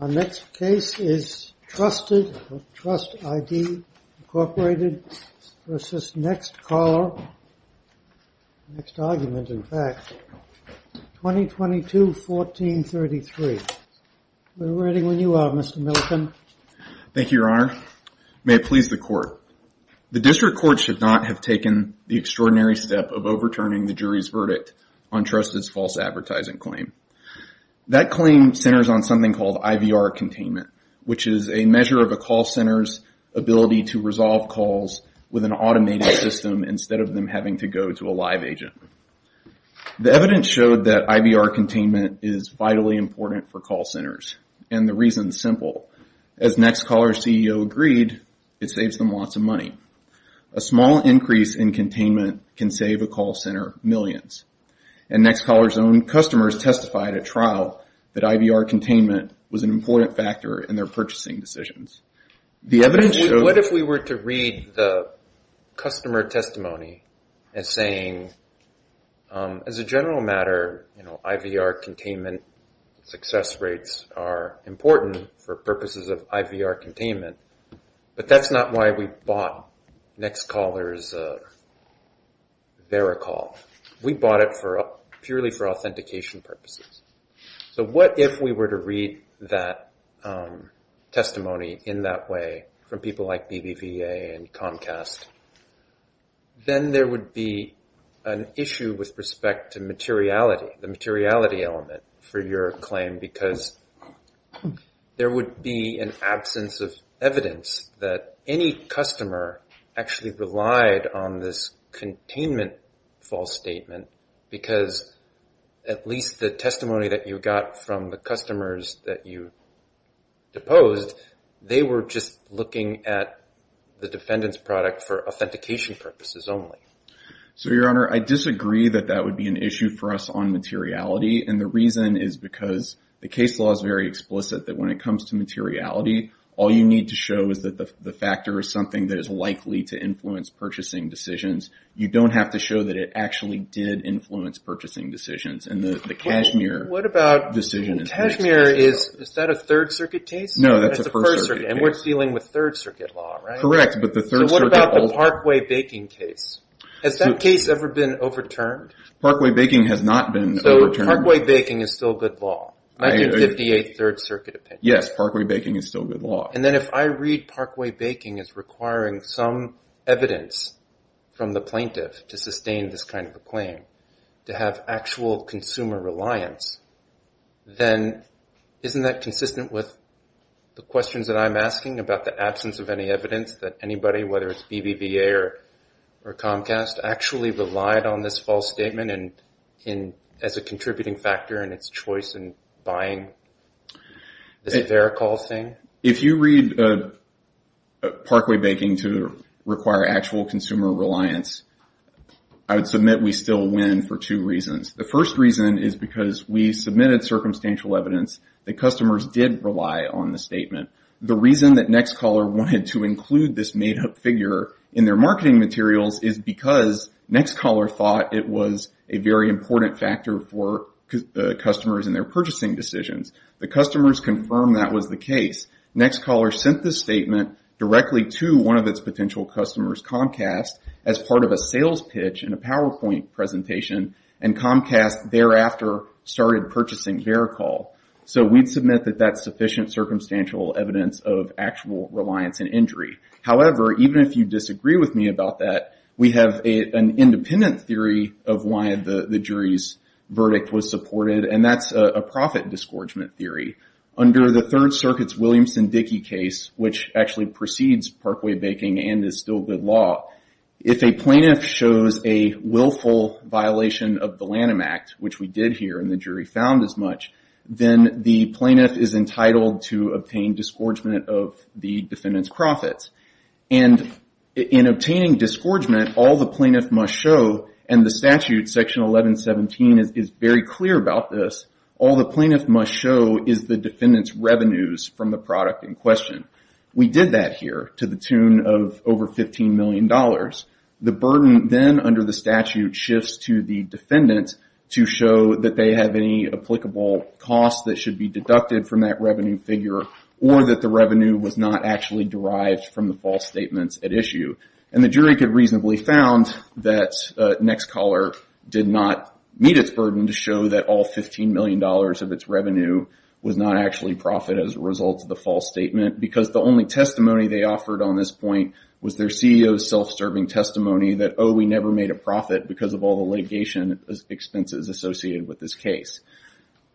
Our next case is TRUSTID, Inc. v. Next Caller, 2022-1433. We're reading when you are, Mr. Milken. Thank you, Your Honor. May it please the Court. The District Court should not have taken the extraordinary step of overturning the jury's verdict on TRUSTID's false advertising claim. That claim centers on something called IVR containment, which is a measure of a call center's ability to resolve calls with an automated system instead of them having to go to a live agent. The evidence showed that IVR containment is vitally important for call centers, and the reason is simple. As Next Caller's CEO agreed, it saves them lots of money. A small increase in containment can save a call center millions. And Next Caller's own customers testified at trial that IVR containment was an important factor in their purchasing decisions. What if we were to read the customer testimony as saying, as a general matter, IVR containment success rates are important for purposes of IVR containment. But that's not why we bought Next Caller's VeriCall. We bought it purely for authentication purposes. So what if we were to read that testimony in that way from people like BBVA and Comcast? Then there would be an issue with respect to materiality, the materiality element for your claim, because there would be an absence of evidence that any customer actually relied on this containment false statement. Because at least the testimony that you got from the customers that you deposed, they were just looking at the defendant's product for authentication purposes only. So, Your Honor, I disagree that that would be an issue for us on materiality. And the reason is because the case law is very explicit that when it comes to materiality, all you need to show is that the factor is something that is likely to influence purchasing decisions. You don't have to show that it actually did influence purchasing decisions. And the Cashmere decision is very explicit. Cashmere, is that a Third Circuit case? No, that's a First Circuit case. And we're dealing with Third Circuit law, right? Correct. But the Third Circuit... So what about the Parkway Baking case? Has that case ever been overturned? Parkway Baking has not been overturned. So Parkway Baking is still good law? 1958 Third Circuit opinion. Yes, Parkway Baking is still good law. And then if I read Parkway Baking as requiring some evidence from the plaintiff to sustain this kind of a claim, to have actual consumer reliance, then isn't that consistent with the questions that I'm asking about the absence of any evidence that anybody, whether it's BBVA or Comcast, actually relied on this false statement as a contributing factor in its choice in buying this VeriCall thing? If you read Parkway Baking to require actual consumer reliance, I would submit we still win for two reasons. The first reason is because we submitted circumstantial evidence that customers did rely on the statement. The reason that NextCaller wanted to include this made-up figure in their marketing materials is because NextCaller thought it was a very important factor for customers in their purchasing decisions. The customers confirmed that was the case. NextCaller sent this statement directly to one of its potential customers, Comcast, as part of a sales pitch in a PowerPoint presentation. And Comcast thereafter started purchasing VeriCall. So we'd submit that that's sufficient circumstantial evidence of actual reliance and injury. However, even if you disagree with me about that, we have an independent theory of why the jury's verdict was supported, and that's a profit disgorgement theory. Under the Third Circuit's Williamson-Dickey case, which actually precedes Parkway Baking and is still good law, if a plaintiff shows a willful violation of the Lanham Act, which we did here and the jury found as much, then the plaintiff is entitled to obtain disgorgement of the defendant's profits. And in obtaining disgorgement, all the plaintiff must show, and the statute, Section 1117, is very clear about this, all the plaintiff must show is the defendant's revenues from the product in question. We did that here to the tune of over $15 million. The burden then, under the statute, shifts to the defendant to show that they have any applicable costs that should be deducted from that revenue figure, or that the revenue was not actually derived from the false statements at issue. And the jury could reasonably found that NextCaller did not meet its burden to show that all $15 million of its revenue was not actually profit as a result of the false statement, because the only testimony they offered on this point was their CEO's self-serving testimony that, oh, we never made a profit because of all the litigation expenses associated with this case.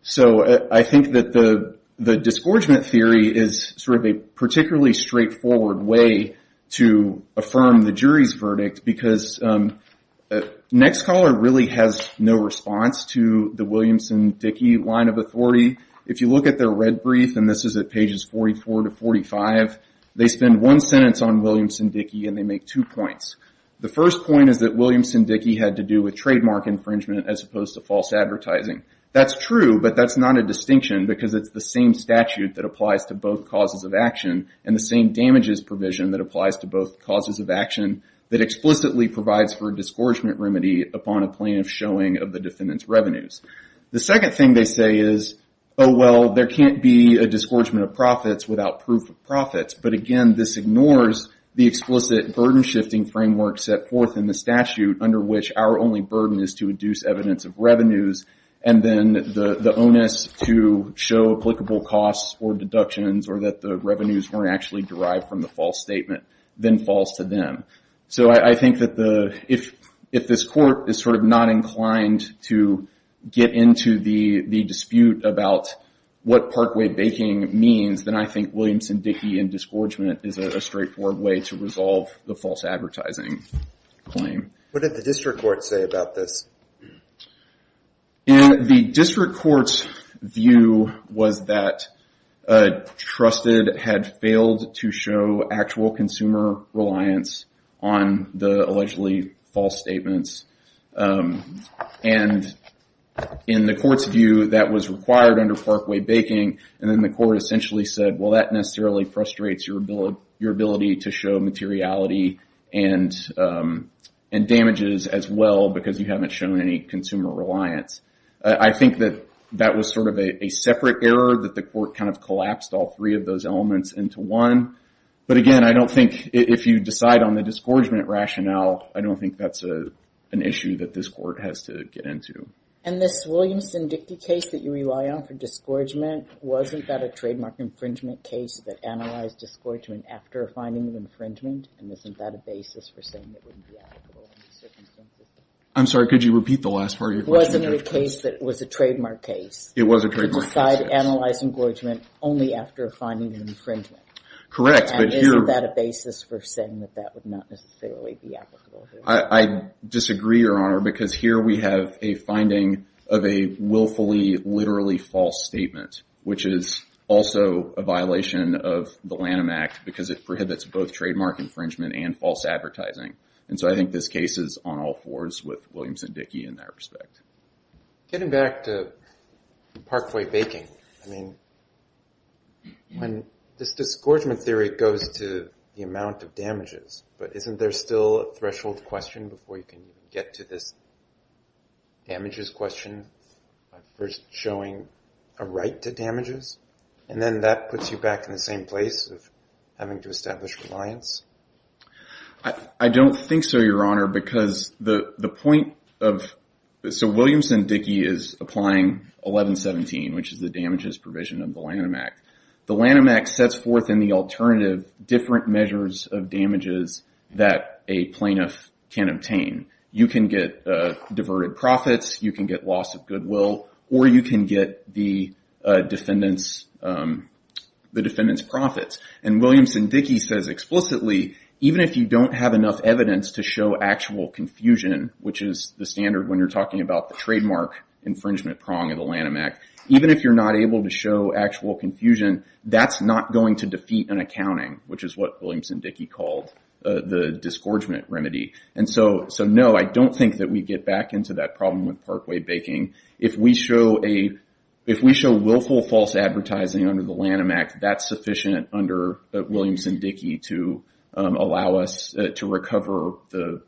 So I think that the disgorgement theory is sort of a particularly straightforward way to affirm the jury's verdict, because NextCaller really has no response to the Williamson-Dickey line of authority. If you look at their red brief, and this is at pages 44 to 45, they spend one sentence on Williamson-Dickey and they make two points. The first point is that Williamson-Dickey had to do with trademark infringement as opposed to false advertising. That's true, but that's not a distinction because it's the same statute that applies to both causes of action, and the same damages provision that applies to both causes of action, that explicitly provides for a disgorgement remedy upon a plaintiff showing of the defendant's revenues. The second thing they say is, oh, well, there can't be a disgorgement of profits without proof of profits. But again, this ignores the explicit burden-shifting framework set forth in the statute, under which our only burden is to induce evidence of revenues, and then the onus to show applicable costs or deductions, or that the revenues weren't actually derived from the false statement, then falls to them. So I think that if this court is sort of not inclined to get into the dispute about what Parkway baking means, then I think Williamson-Dickey and disgorgement is a straightforward way to resolve the false advertising claim. What did the district court say about this? The district court's view was that Trusted had failed to show actual consumer reliance on the allegedly false statements. And in the court's view, that was required under Parkway baking. And then the court essentially said, well, that necessarily frustrates your ability to show materiality and damages as well, because you haven't shown any consumer reliance. I think that that was sort of a separate error that the court kind of collapsed all three of those elements into one. But again, I don't think if you decide on the disgorgement rationale, I don't think that's an issue that this court has to get into. And this Williamson-Dickey case that you rely on for disgorgement, wasn't that a trademark infringement case that analyzed disgorgement after finding the infringement? And isn't that a basis for saying it wouldn't be applicable? I'm sorry, could you repeat the last part of your question? Wasn't it a case that was a trademark case? It was a trademark case. To decide to analyze engorgement only after finding the infringement. Correct. And isn't that a basis for saying that that would not necessarily be applicable? I disagree, Your Honor, because here we have a finding of a willfully, literally false statement, which is also a violation of the Lanham Act because it prohibits both trademark infringement and false advertising. And so I think this case is on all fours with Williamson-Dickey in that respect. Getting back to Parkway baking, I mean, when this disgorgement theory goes to the amount of damages, but isn't there still a threshold question before you can get to this damages question? First showing a right to damages, and then that puts you back in the same place of having to establish reliance? I don't think so, Your Honor, because the point of... So Williamson-Dickey is applying 1117, which is the damages provision of the Lanham Act. The Lanham Act sets forth in the alternative different measures of damages that a plaintiff can obtain. You can get diverted profits, you can get loss of goodwill, or you can get the defendant's profits. And Williamson-Dickey says explicitly, even if you don't have enough evidence to show actual confusion, which is the standard when you're talking about the trademark infringement prong of the Lanham Act, even if you're not able to show actual confusion, that's not going to defeat an accounting, which is what Williamson-Dickey called the disgorgement remedy. And so, no, I don't think that we get back into that problem with Parkway baking. If we show willful false advertising under the Lanham Act, that's sufficient under Williamson-Dickey to allow us to recover the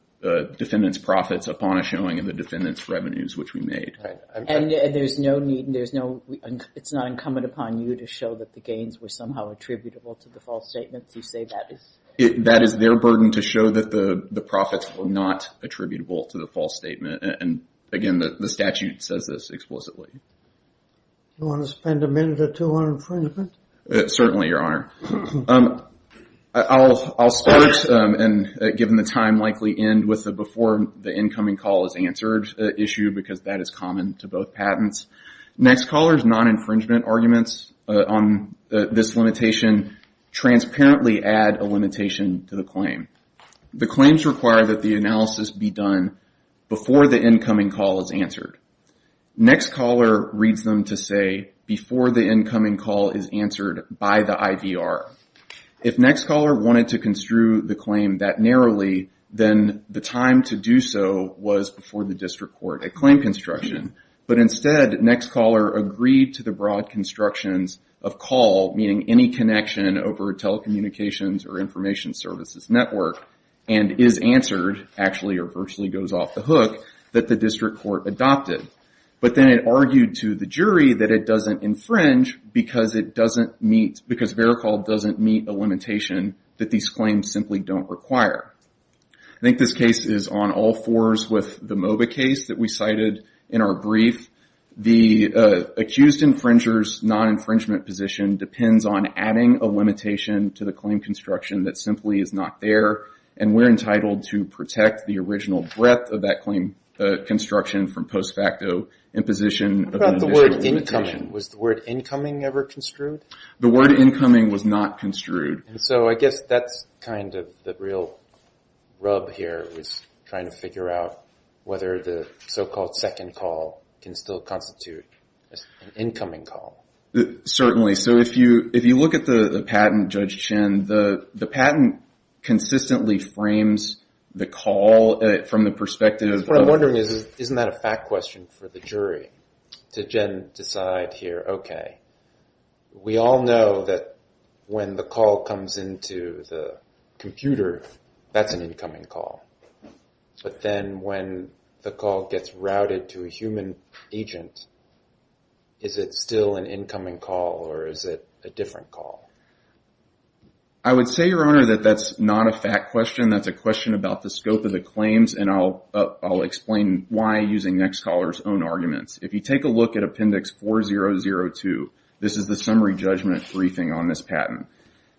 defendant's profits upon a showing of the defendant's revenues, which we made. And there's no need, it's not incumbent upon you to show that the gains were somehow attributable to the false statements? That is their burden, to show that the profits were not attributable to the false statement. And again, the statute says this explicitly. You want to spend a minute or two on infringement? Certainly, Your Honor. I'll start, and given the time, likely end with the before the incoming call is answered issue, because that is common to both patents. Next caller's non-infringement arguments on this limitation. Transparently add a limitation to the claim. The claims require that the analysis be done before the incoming call is answered. Next caller reads them to say before the incoming call is answered by the IVR. If next caller wanted to construe the claim that narrowly, then the time to do so was before the district court at claim construction. But instead, next caller agreed to the broad constructions of call, meaning any connection over telecommunications or information services network, and is answered, actually or virtually goes off the hook, that the district court adopted. But then it argued to the jury that it doesn't infringe because it doesn't meet, because VeriCall doesn't meet a limitation that these claims simply don't require. I think this case is on all fours with the MOBA case that we cited in our brief. The accused infringer's non-infringement position depends on adding a limitation to the claim construction that simply is not there, and we're entitled to protect the original breadth of that claim construction from post facto imposition of an additional limitation. Was the word incoming ever construed? The word incoming was not construed. And so I guess that's kind of the real rub here, was trying to figure out whether the so-called second call can still constitute an incoming call. Certainly. So if you look at the patent, Judge Chin, the patent consistently frames the call from the perspective of... What I'm wondering is, isn't that a fact question for the jury to then decide here, okay, we all know that when the call comes into the computer, that's an incoming call. But then when the call gets routed to a human agent, is it still an incoming call, or is it a different call? I would say, Your Honor, that that's not a fact question. That's a question about the scope of the claims, and I'll explain why using NextCaller's own arguments. If you take a look at Appendix 4002, this is the summary judgment briefing on this patent.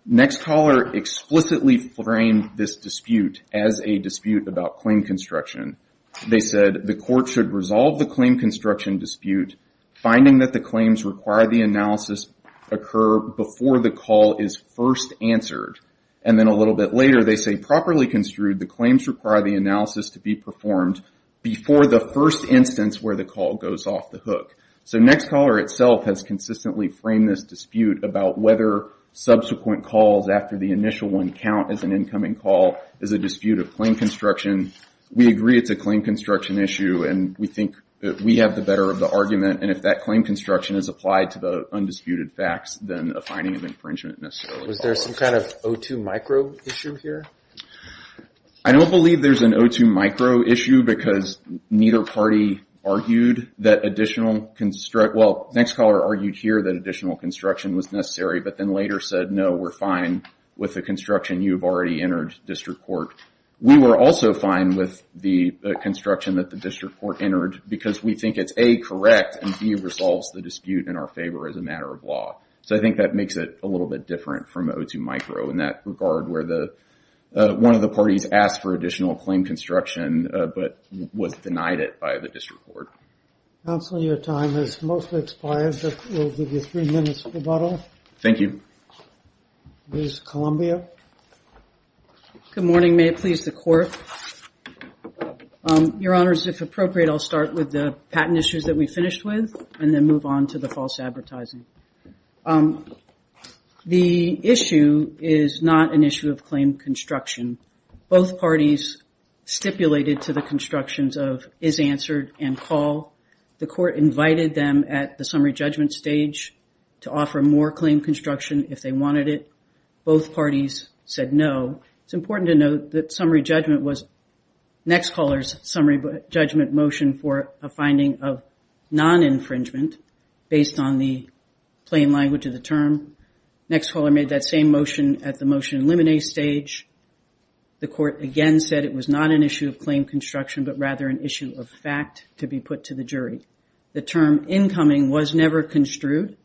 NextCaller explicitly framed this dispute as a dispute about claim construction. They said, the court should resolve the claim construction dispute, finding that the claims require the analysis occur before the call is first answered. And then a little bit later, they say, properly construed, the claims require the analysis to be performed before the first instance where the call goes off the hook. So NextCaller itself has consistently framed this dispute about whether subsequent calls after the initial one count as an incoming call is a dispute of claim construction. We agree it's a claim construction issue, and we think that we have the better of the argument. And if that claim construction is applied to the undisputed facts, then a finding of infringement necessarily falls off. Was there some kind of O2 micro issue here? I don't believe there's an O2 micro issue because neither party argued that additional construct, well, NextCaller argued here that additional construction was necessary, but then later said, no, we're fine with the construction you've already entered, District Court. We were also fine with the construction that the District Court entered because we think it's A, correct, and B, resolves the dispute in our favor as a matter of law. So I think that makes it a little bit different from O2 micro in that regard where one of the parties asked for additional claim construction but was denied it by the District Court. Counsel, your time has mostly expired, but we'll give you three minutes to rebuttal. Thank you. Ms. Columbia. Good morning. May it please the Court. Your Honors, if appropriate, I'll start with the patent issues that we finished with and then move on to the false advertising. The issue is not an issue of claim construction. Both parties stipulated to the constructions of is answered and call. The Court invited them at the summary judgment stage to offer more claim construction if they wanted it. Both parties said no. It's important to note that summary judgment was NextCaller's summary judgment motion for a finding of non-infringement based on the plain language of the term. NextCaller made that same motion at the motion eliminate stage. The Court again said it was not an issue of claim construction but rather an issue of fact to be put to the jury. The term incoming was never construed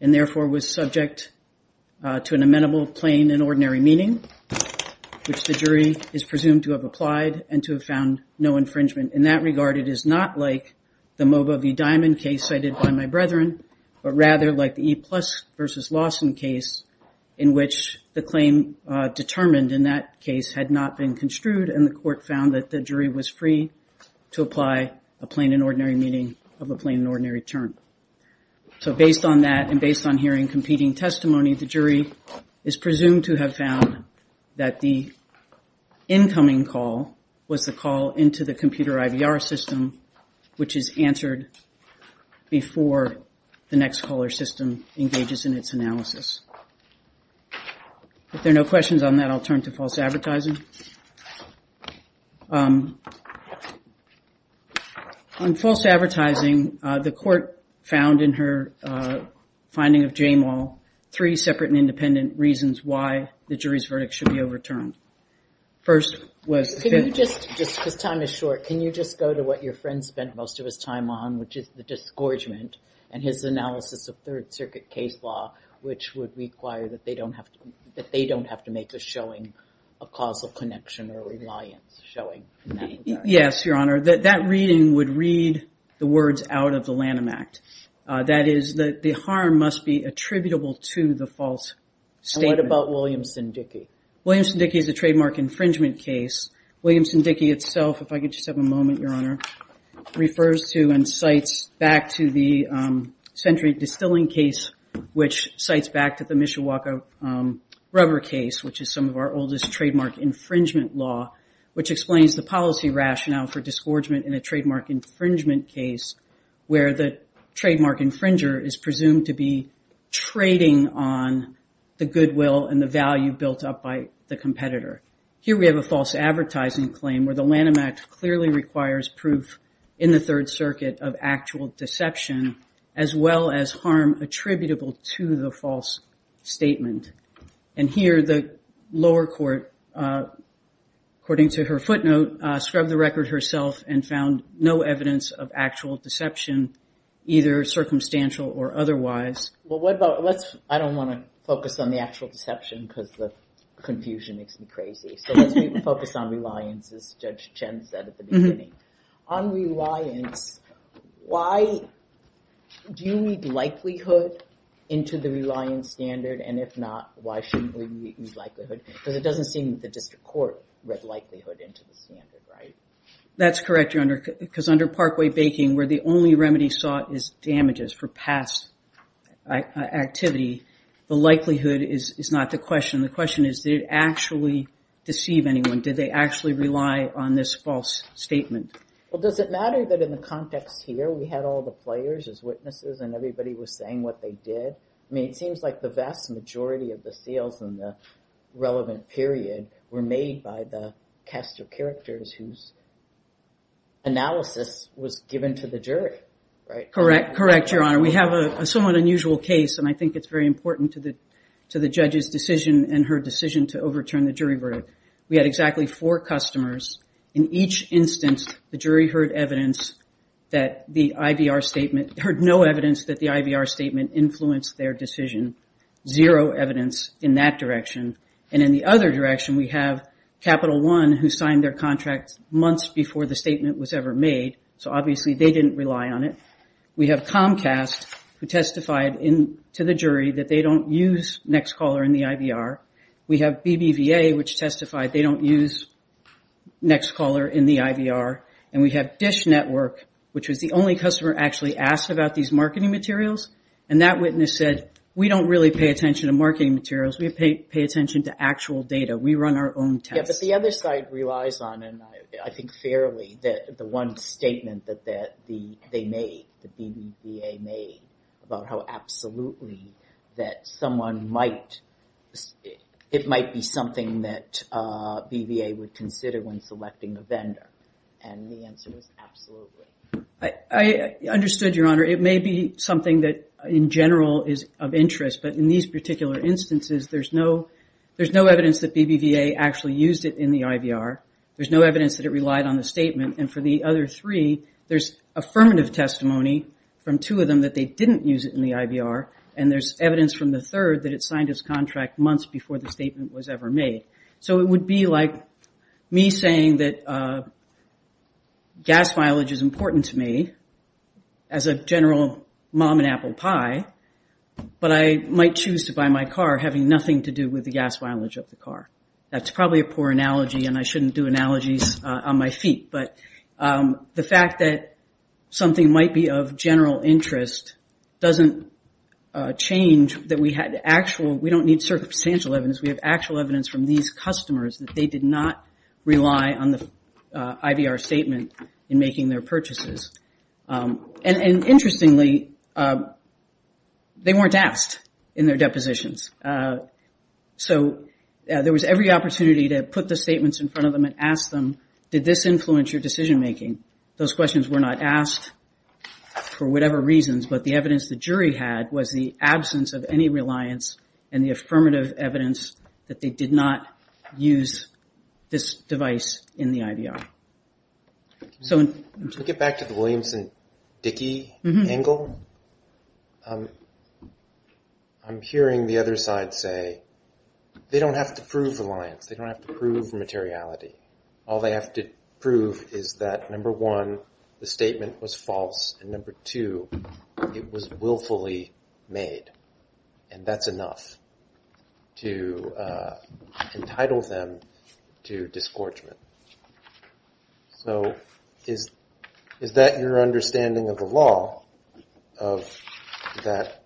and therefore was subject to an amenable plain and ordinary meaning, which the jury is presumed to have applied and to have found no infringement. In that regard, it is not like the MOBA v. Diamond case cited by my brethren, but rather like the E plus versus Lawson case in which the claim determined in that case had not been construed and the Court found that the jury was free to apply a plain and ordinary meaning of a plain and ordinary term. So based on that and based on hearing competing testimony, the jury is presumed to have found that the incoming call was the call into the computer IVR system, which is answered before the NextCaller system engages in its analysis. If there are no questions on that, I'll turn to false advertising. On false advertising, the Court found in her finding of J-Mal three separate and independent reasons why the jury's verdict should be overturned. First was... Can you just, just because time is short, can you just go to what your friend spent most of his time on, which is the disgorgement and his analysis of Third Circuit case law, which would require that they don't have to make a showing of causal connection or reliance showing in that regard? Yes, Your Honor, that reading would read the words out of the Lanham Act. That is that the harm must be attributable to the false statement. And what about Williamson-Dickey? Williamson-Dickey is a trademark infringement case. Williamson-Dickey itself, if I could just have a moment, Your Honor, refers to and cites back to the Century Distilling case, which cites back to the Mishawaka rubber case, which is some of our oldest trademark infringement law, which explains the policy rationale for disgorgement in a trademark infringement case where the trademark infringer is presumed to be trading on the goodwill and the value built up by the competitor. Here we have a false advertising claim where the Lanham Act clearly requires proof in the Third Circuit of actual deception, as well as harm attributable to the false statement. And here the lower court, according to her footnote, scrubbed the record herself and found no evidence of actual deception, either circumstantial or otherwise. Well, what about, let's, I don't want to focus on the actual deception because the confusion makes me crazy. So let's focus on reliance, as Judge Chen said at the beginning. On reliance, why do you need likelihood into the reliance standard? And if not, why shouldn't we need likelihood? Because it doesn't seem that the district court read likelihood into the standard, right? That's correct, Your Honor, because under Parkway baking where the only remedy sought is damages for past activity, the likelihood is not the question. The question is, did it actually deceive anyone? Did they actually rely on this false statement? Well, does it matter that in the context here, we had all the players as witnesses and everybody was saying what they did? I mean, it seems like the vast majority of the sales in the relevant period were made by the cast of characters whose analysis was given to the jury, right? Correct. Correct, Your Honor. We have a somewhat unusual case and I think it's very important to the, to the judge's decision and her decision to overturn the jury verdict. We had exactly four customers. In each instance, the jury heard evidence that the IVR statement, heard no evidence that the IVR statement influenced their decision. Zero evidence in that direction. And in the other direction, we have Capital One who signed their contracts months before the statement was ever made. So obviously they didn't rely on it. We have Comcast who testified in to the jury that they don't use Nextcaller in the IVR. We have BBVA, which testified they don't use Nextcaller in the IVR and we have Dish Network, which was the only customer actually asked about these marketing materials. And that witness said, we don't really pay attention to marketing materials. We pay attention to actual data. We run our own tests. But the other side relies on, and I think fairly, that the one statement that they made, that BBVA made about how absolutely that someone might, and the answer was absolutely. I understood your Honor. It may be something that in general is of interest, but in these particular instances, there's no, there's no evidence that BBVA actually used it in the IVR. There's no evidence that it relied on the statement. And for the other three, there's affirmative testimony from two of them that they didn't use it in the IVR. And there's evidence from the third that it signed his contract months before the statement was ever made. So it would be like me saying that gas mileage is important to me as a general mom and apple pie, but I might choose to buy my car having nothing to do with the gas mileage of the car. That's probably a poor analogy and I shouldn't do analogies on my feet. But the fact that something might be of general interest doesn't change that we had actual, we don't need circumstantial evidence. We have actual evidence from these customers that they did not rely on the IVR statement in making their purchases. And interestingly they weren't asked in their depositions. So there was every opportunity to put the statements in front of them and ask them, did this influence your decision-making? Those questions were not asked for whatever reasons, but the evidence the jury had was the absence of any reliance and the fact that they did not use this device in the IVR. So to get back to the Williams and Dickey angle, I'm hearing the other side say they don't have to prove reliance. They don't have to prove materiality. All they have to prove is that number one, the statement was false and number two, it was willfully made and that's enough to, entitle them to disgorgement. So is that your understanding of the law of that?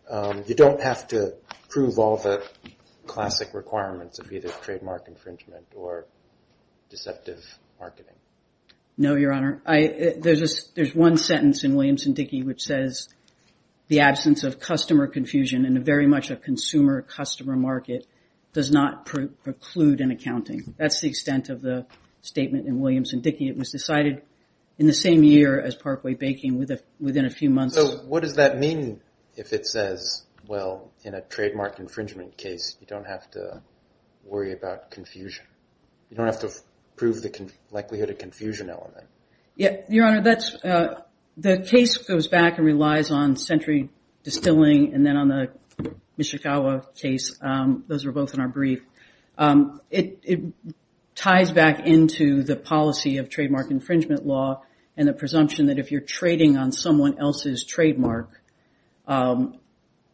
You don't have to prove all the classic requirements of either trademark infringement or deceptive marketing. No, Your Honor. There's one sentence in Williams and Dickey, which says the absence of customer confusion in a very much a consumer customer market does not preclude an accounting. That's the extent of the statement in Williams and Dickey. It was decided in the same year as Parkway baking within a few months. So what does that mean if it says, well, in a trademark infringement case, you don't have to worry about confusion. You don't have to prove the likelihood of confusion element. Yeah, Your Honor. That's the case goes back and relies on sentry distilling and then on the Chikawa case. Those were both in our brief. It ties back into the policy of trademark infringement law and the presumption that if you're trading on someone else's trademark,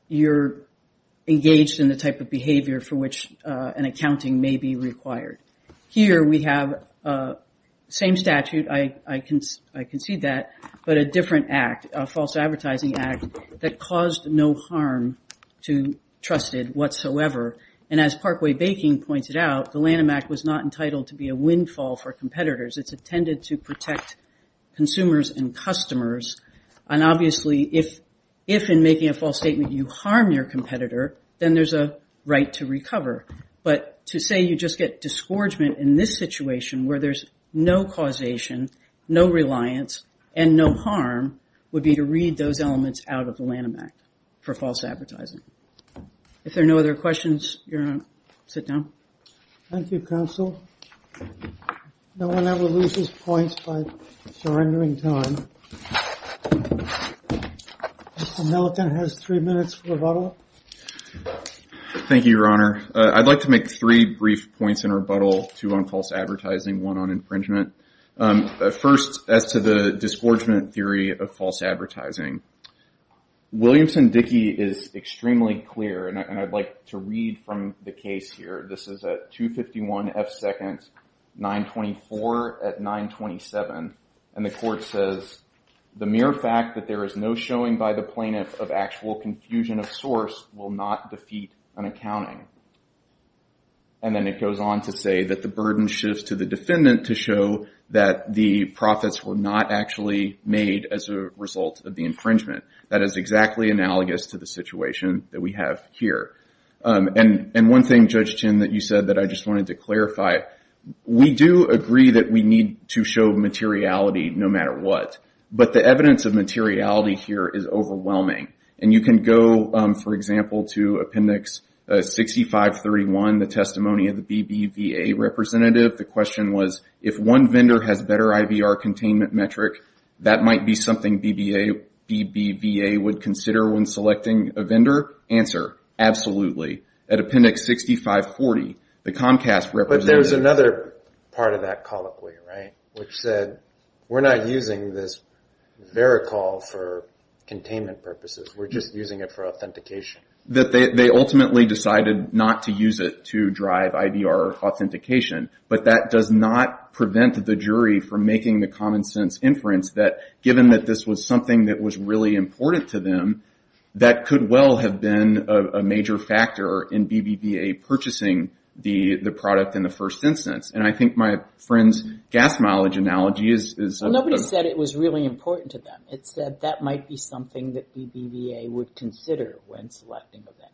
you're engaged in the type of behavior for which an accounting may be required. Here we have same statute. I concede that, but a different act, a false advertising act that caused no harm to trusted whatsoever. And as Parkway baking pointed out, the Lanham Act was not entitled to be a windfall for competitors. It's intended to protect consumers and customers. And obviously if, if in making a false statement, you harm your competitor, then there's a right to recover. But to say you just get disgorgement in this situation where there's no causation, no reliance and no harm would be to read those elements out of the Lanham Act for false advertising. If there are no other questions, sit down. Thank you, counsel. No one ever loses points by surrendering time. Mr. Milliken has three minutes for rebuttal. Thank you, Your Honor. I'd like to make three brief points in rebuttal to on false advertising, one on infringement. First as to the disgorgement theory of false advertising, Williamson Dickey is extremely clear and I'd like to read from the case here. This is at 251 F seconds, 924 at 927. And the court says the mere fact that there is no showing by the plaintiff of actual confusion of source will not defeat an accounting. And then it goes on to say that the burden shifts to the defendant to show that the profits were not actually made as a result of the infringement. That is exactly analogous to the situation that we have here. And one thing, Judge Chin, that you said that I just wanted to clarify, we do agree that we need to show materiality no matter what, but the evidence of materiality here is overwhelming. And you can go, for example, to Appendix 6531, the testimony of the BBVA representative. The question was, if one vendor has better IVR containment metric, that might be something BBVA would consider when selecting a vendor? Answer, absolutely. At Appendix 6540, the Comcast representative... But there's another part of that colloquy, right? Which said we're not using this vericall for containment purposes. We're just using it for authentication. That they ultimately decided not to use it to drive IVR authentication. But that does not prevent the jury from making the common sense inference that, given that this was something that was really important to them, that could well have been a major factor in BBVA purchasing the product in the first instance. And I think my friend's gas mileage analogy is... Nobody said it was really important to them. It said that might be something that BBVA would consider when selecting a vendor.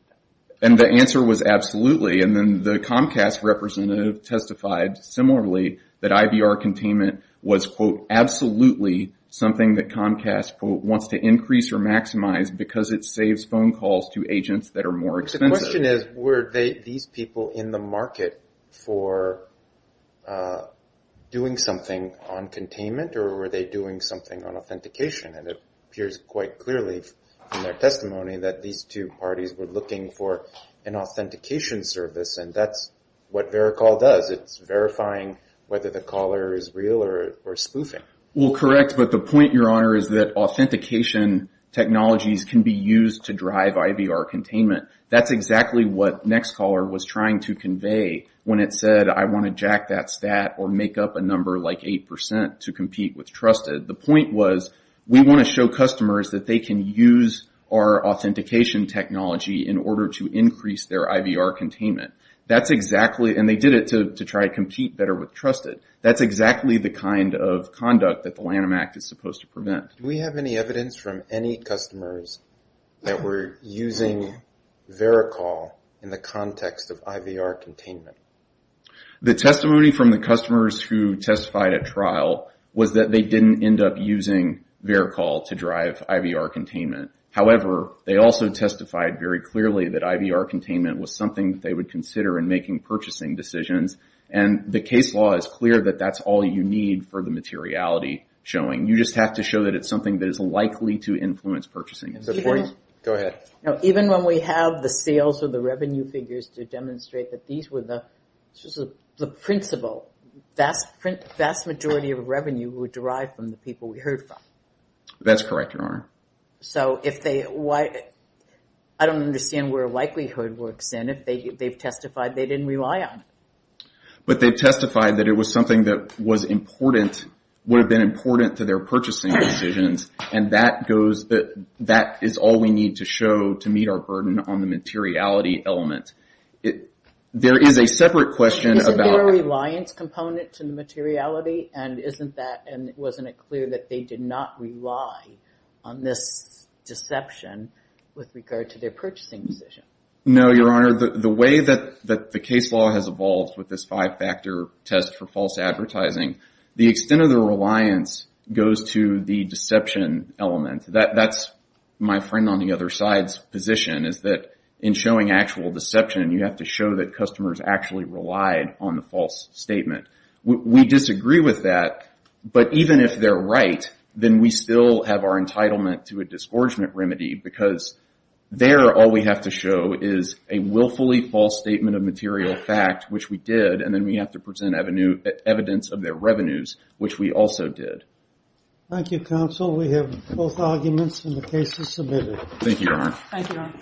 And the answer was, absolutely. And then the Comcast representative testified similarly that IVR containment was, quote, absolutely something that Comcast wants to increase or maximize because it saves phone calls to agents that are more expensive. The question is, were these people in the market for doing something on containment or were they doing something on authentication? And it appears quite clearly from their testimony that these two parties were looking for an authentication service. And that's what vericall does. It's verifying whether the caller is real or spoofing. Well, correct. But the point your honor is that authentication technologies can be used to drive IVR containment. That's exactly what Nextcaller was trying to convey when it said, I want to jack that stat or make up a number like 8% to compete with Trusted. The point was we want to show customers that they can use our authentication technology in order to increase their IVR containment. That's exactly... And they did it to try and compete better with Trusted. That's exactly the kind of conduct that the Lanham Act is supposed to prevent. Do we have any evidence from any customers that were using vericall in the case? The testimony from the customers who testified at trial was that they didn't end up using vericall to drive IVR containment. However, they also testified very clearly that IVR containment was something that they would consider in making purchasing decisions. And the case law is clear that that's all you need for the materiality showing. You just have to show that it's something that is likely to influence purchasing. Go ahead. Now, even when we have the sales or the revenue figures to demonstrate that these were the principle, vast majority of revenue would derive from the people we heard from. That's correct, Your Honor. So if they... I don't understand where likelihood works in. If they've testified, they didn't rely on it. But they've testified that it was something that was important, would have been important to their purchasing decisions. And that is all we need to show to meet our burden on the materiality element. There is a separate question about... Isn't there a reliance component to the materiality? And isn't that, and wasn't it clear that they did not rely on this deception with regard to their purchasing decision? No, Your Honor. The way that the case law has evolved with this five factor test for false advertising, the extent of the reliance goes to the deception element. That's my friend on the other side's position is that in showing actual deception, you have to show that customers actually relied on the false statement. We disagree with that, but even if they're right, then we still have our entitlement to a disgorgement remedy because there all we have to show is a willfully false statement of material fact, which we did. And then we have to present evidence of their revenues, which we also did. counsel. We have both arguments and the case is submitted. Thank you, Your Honor.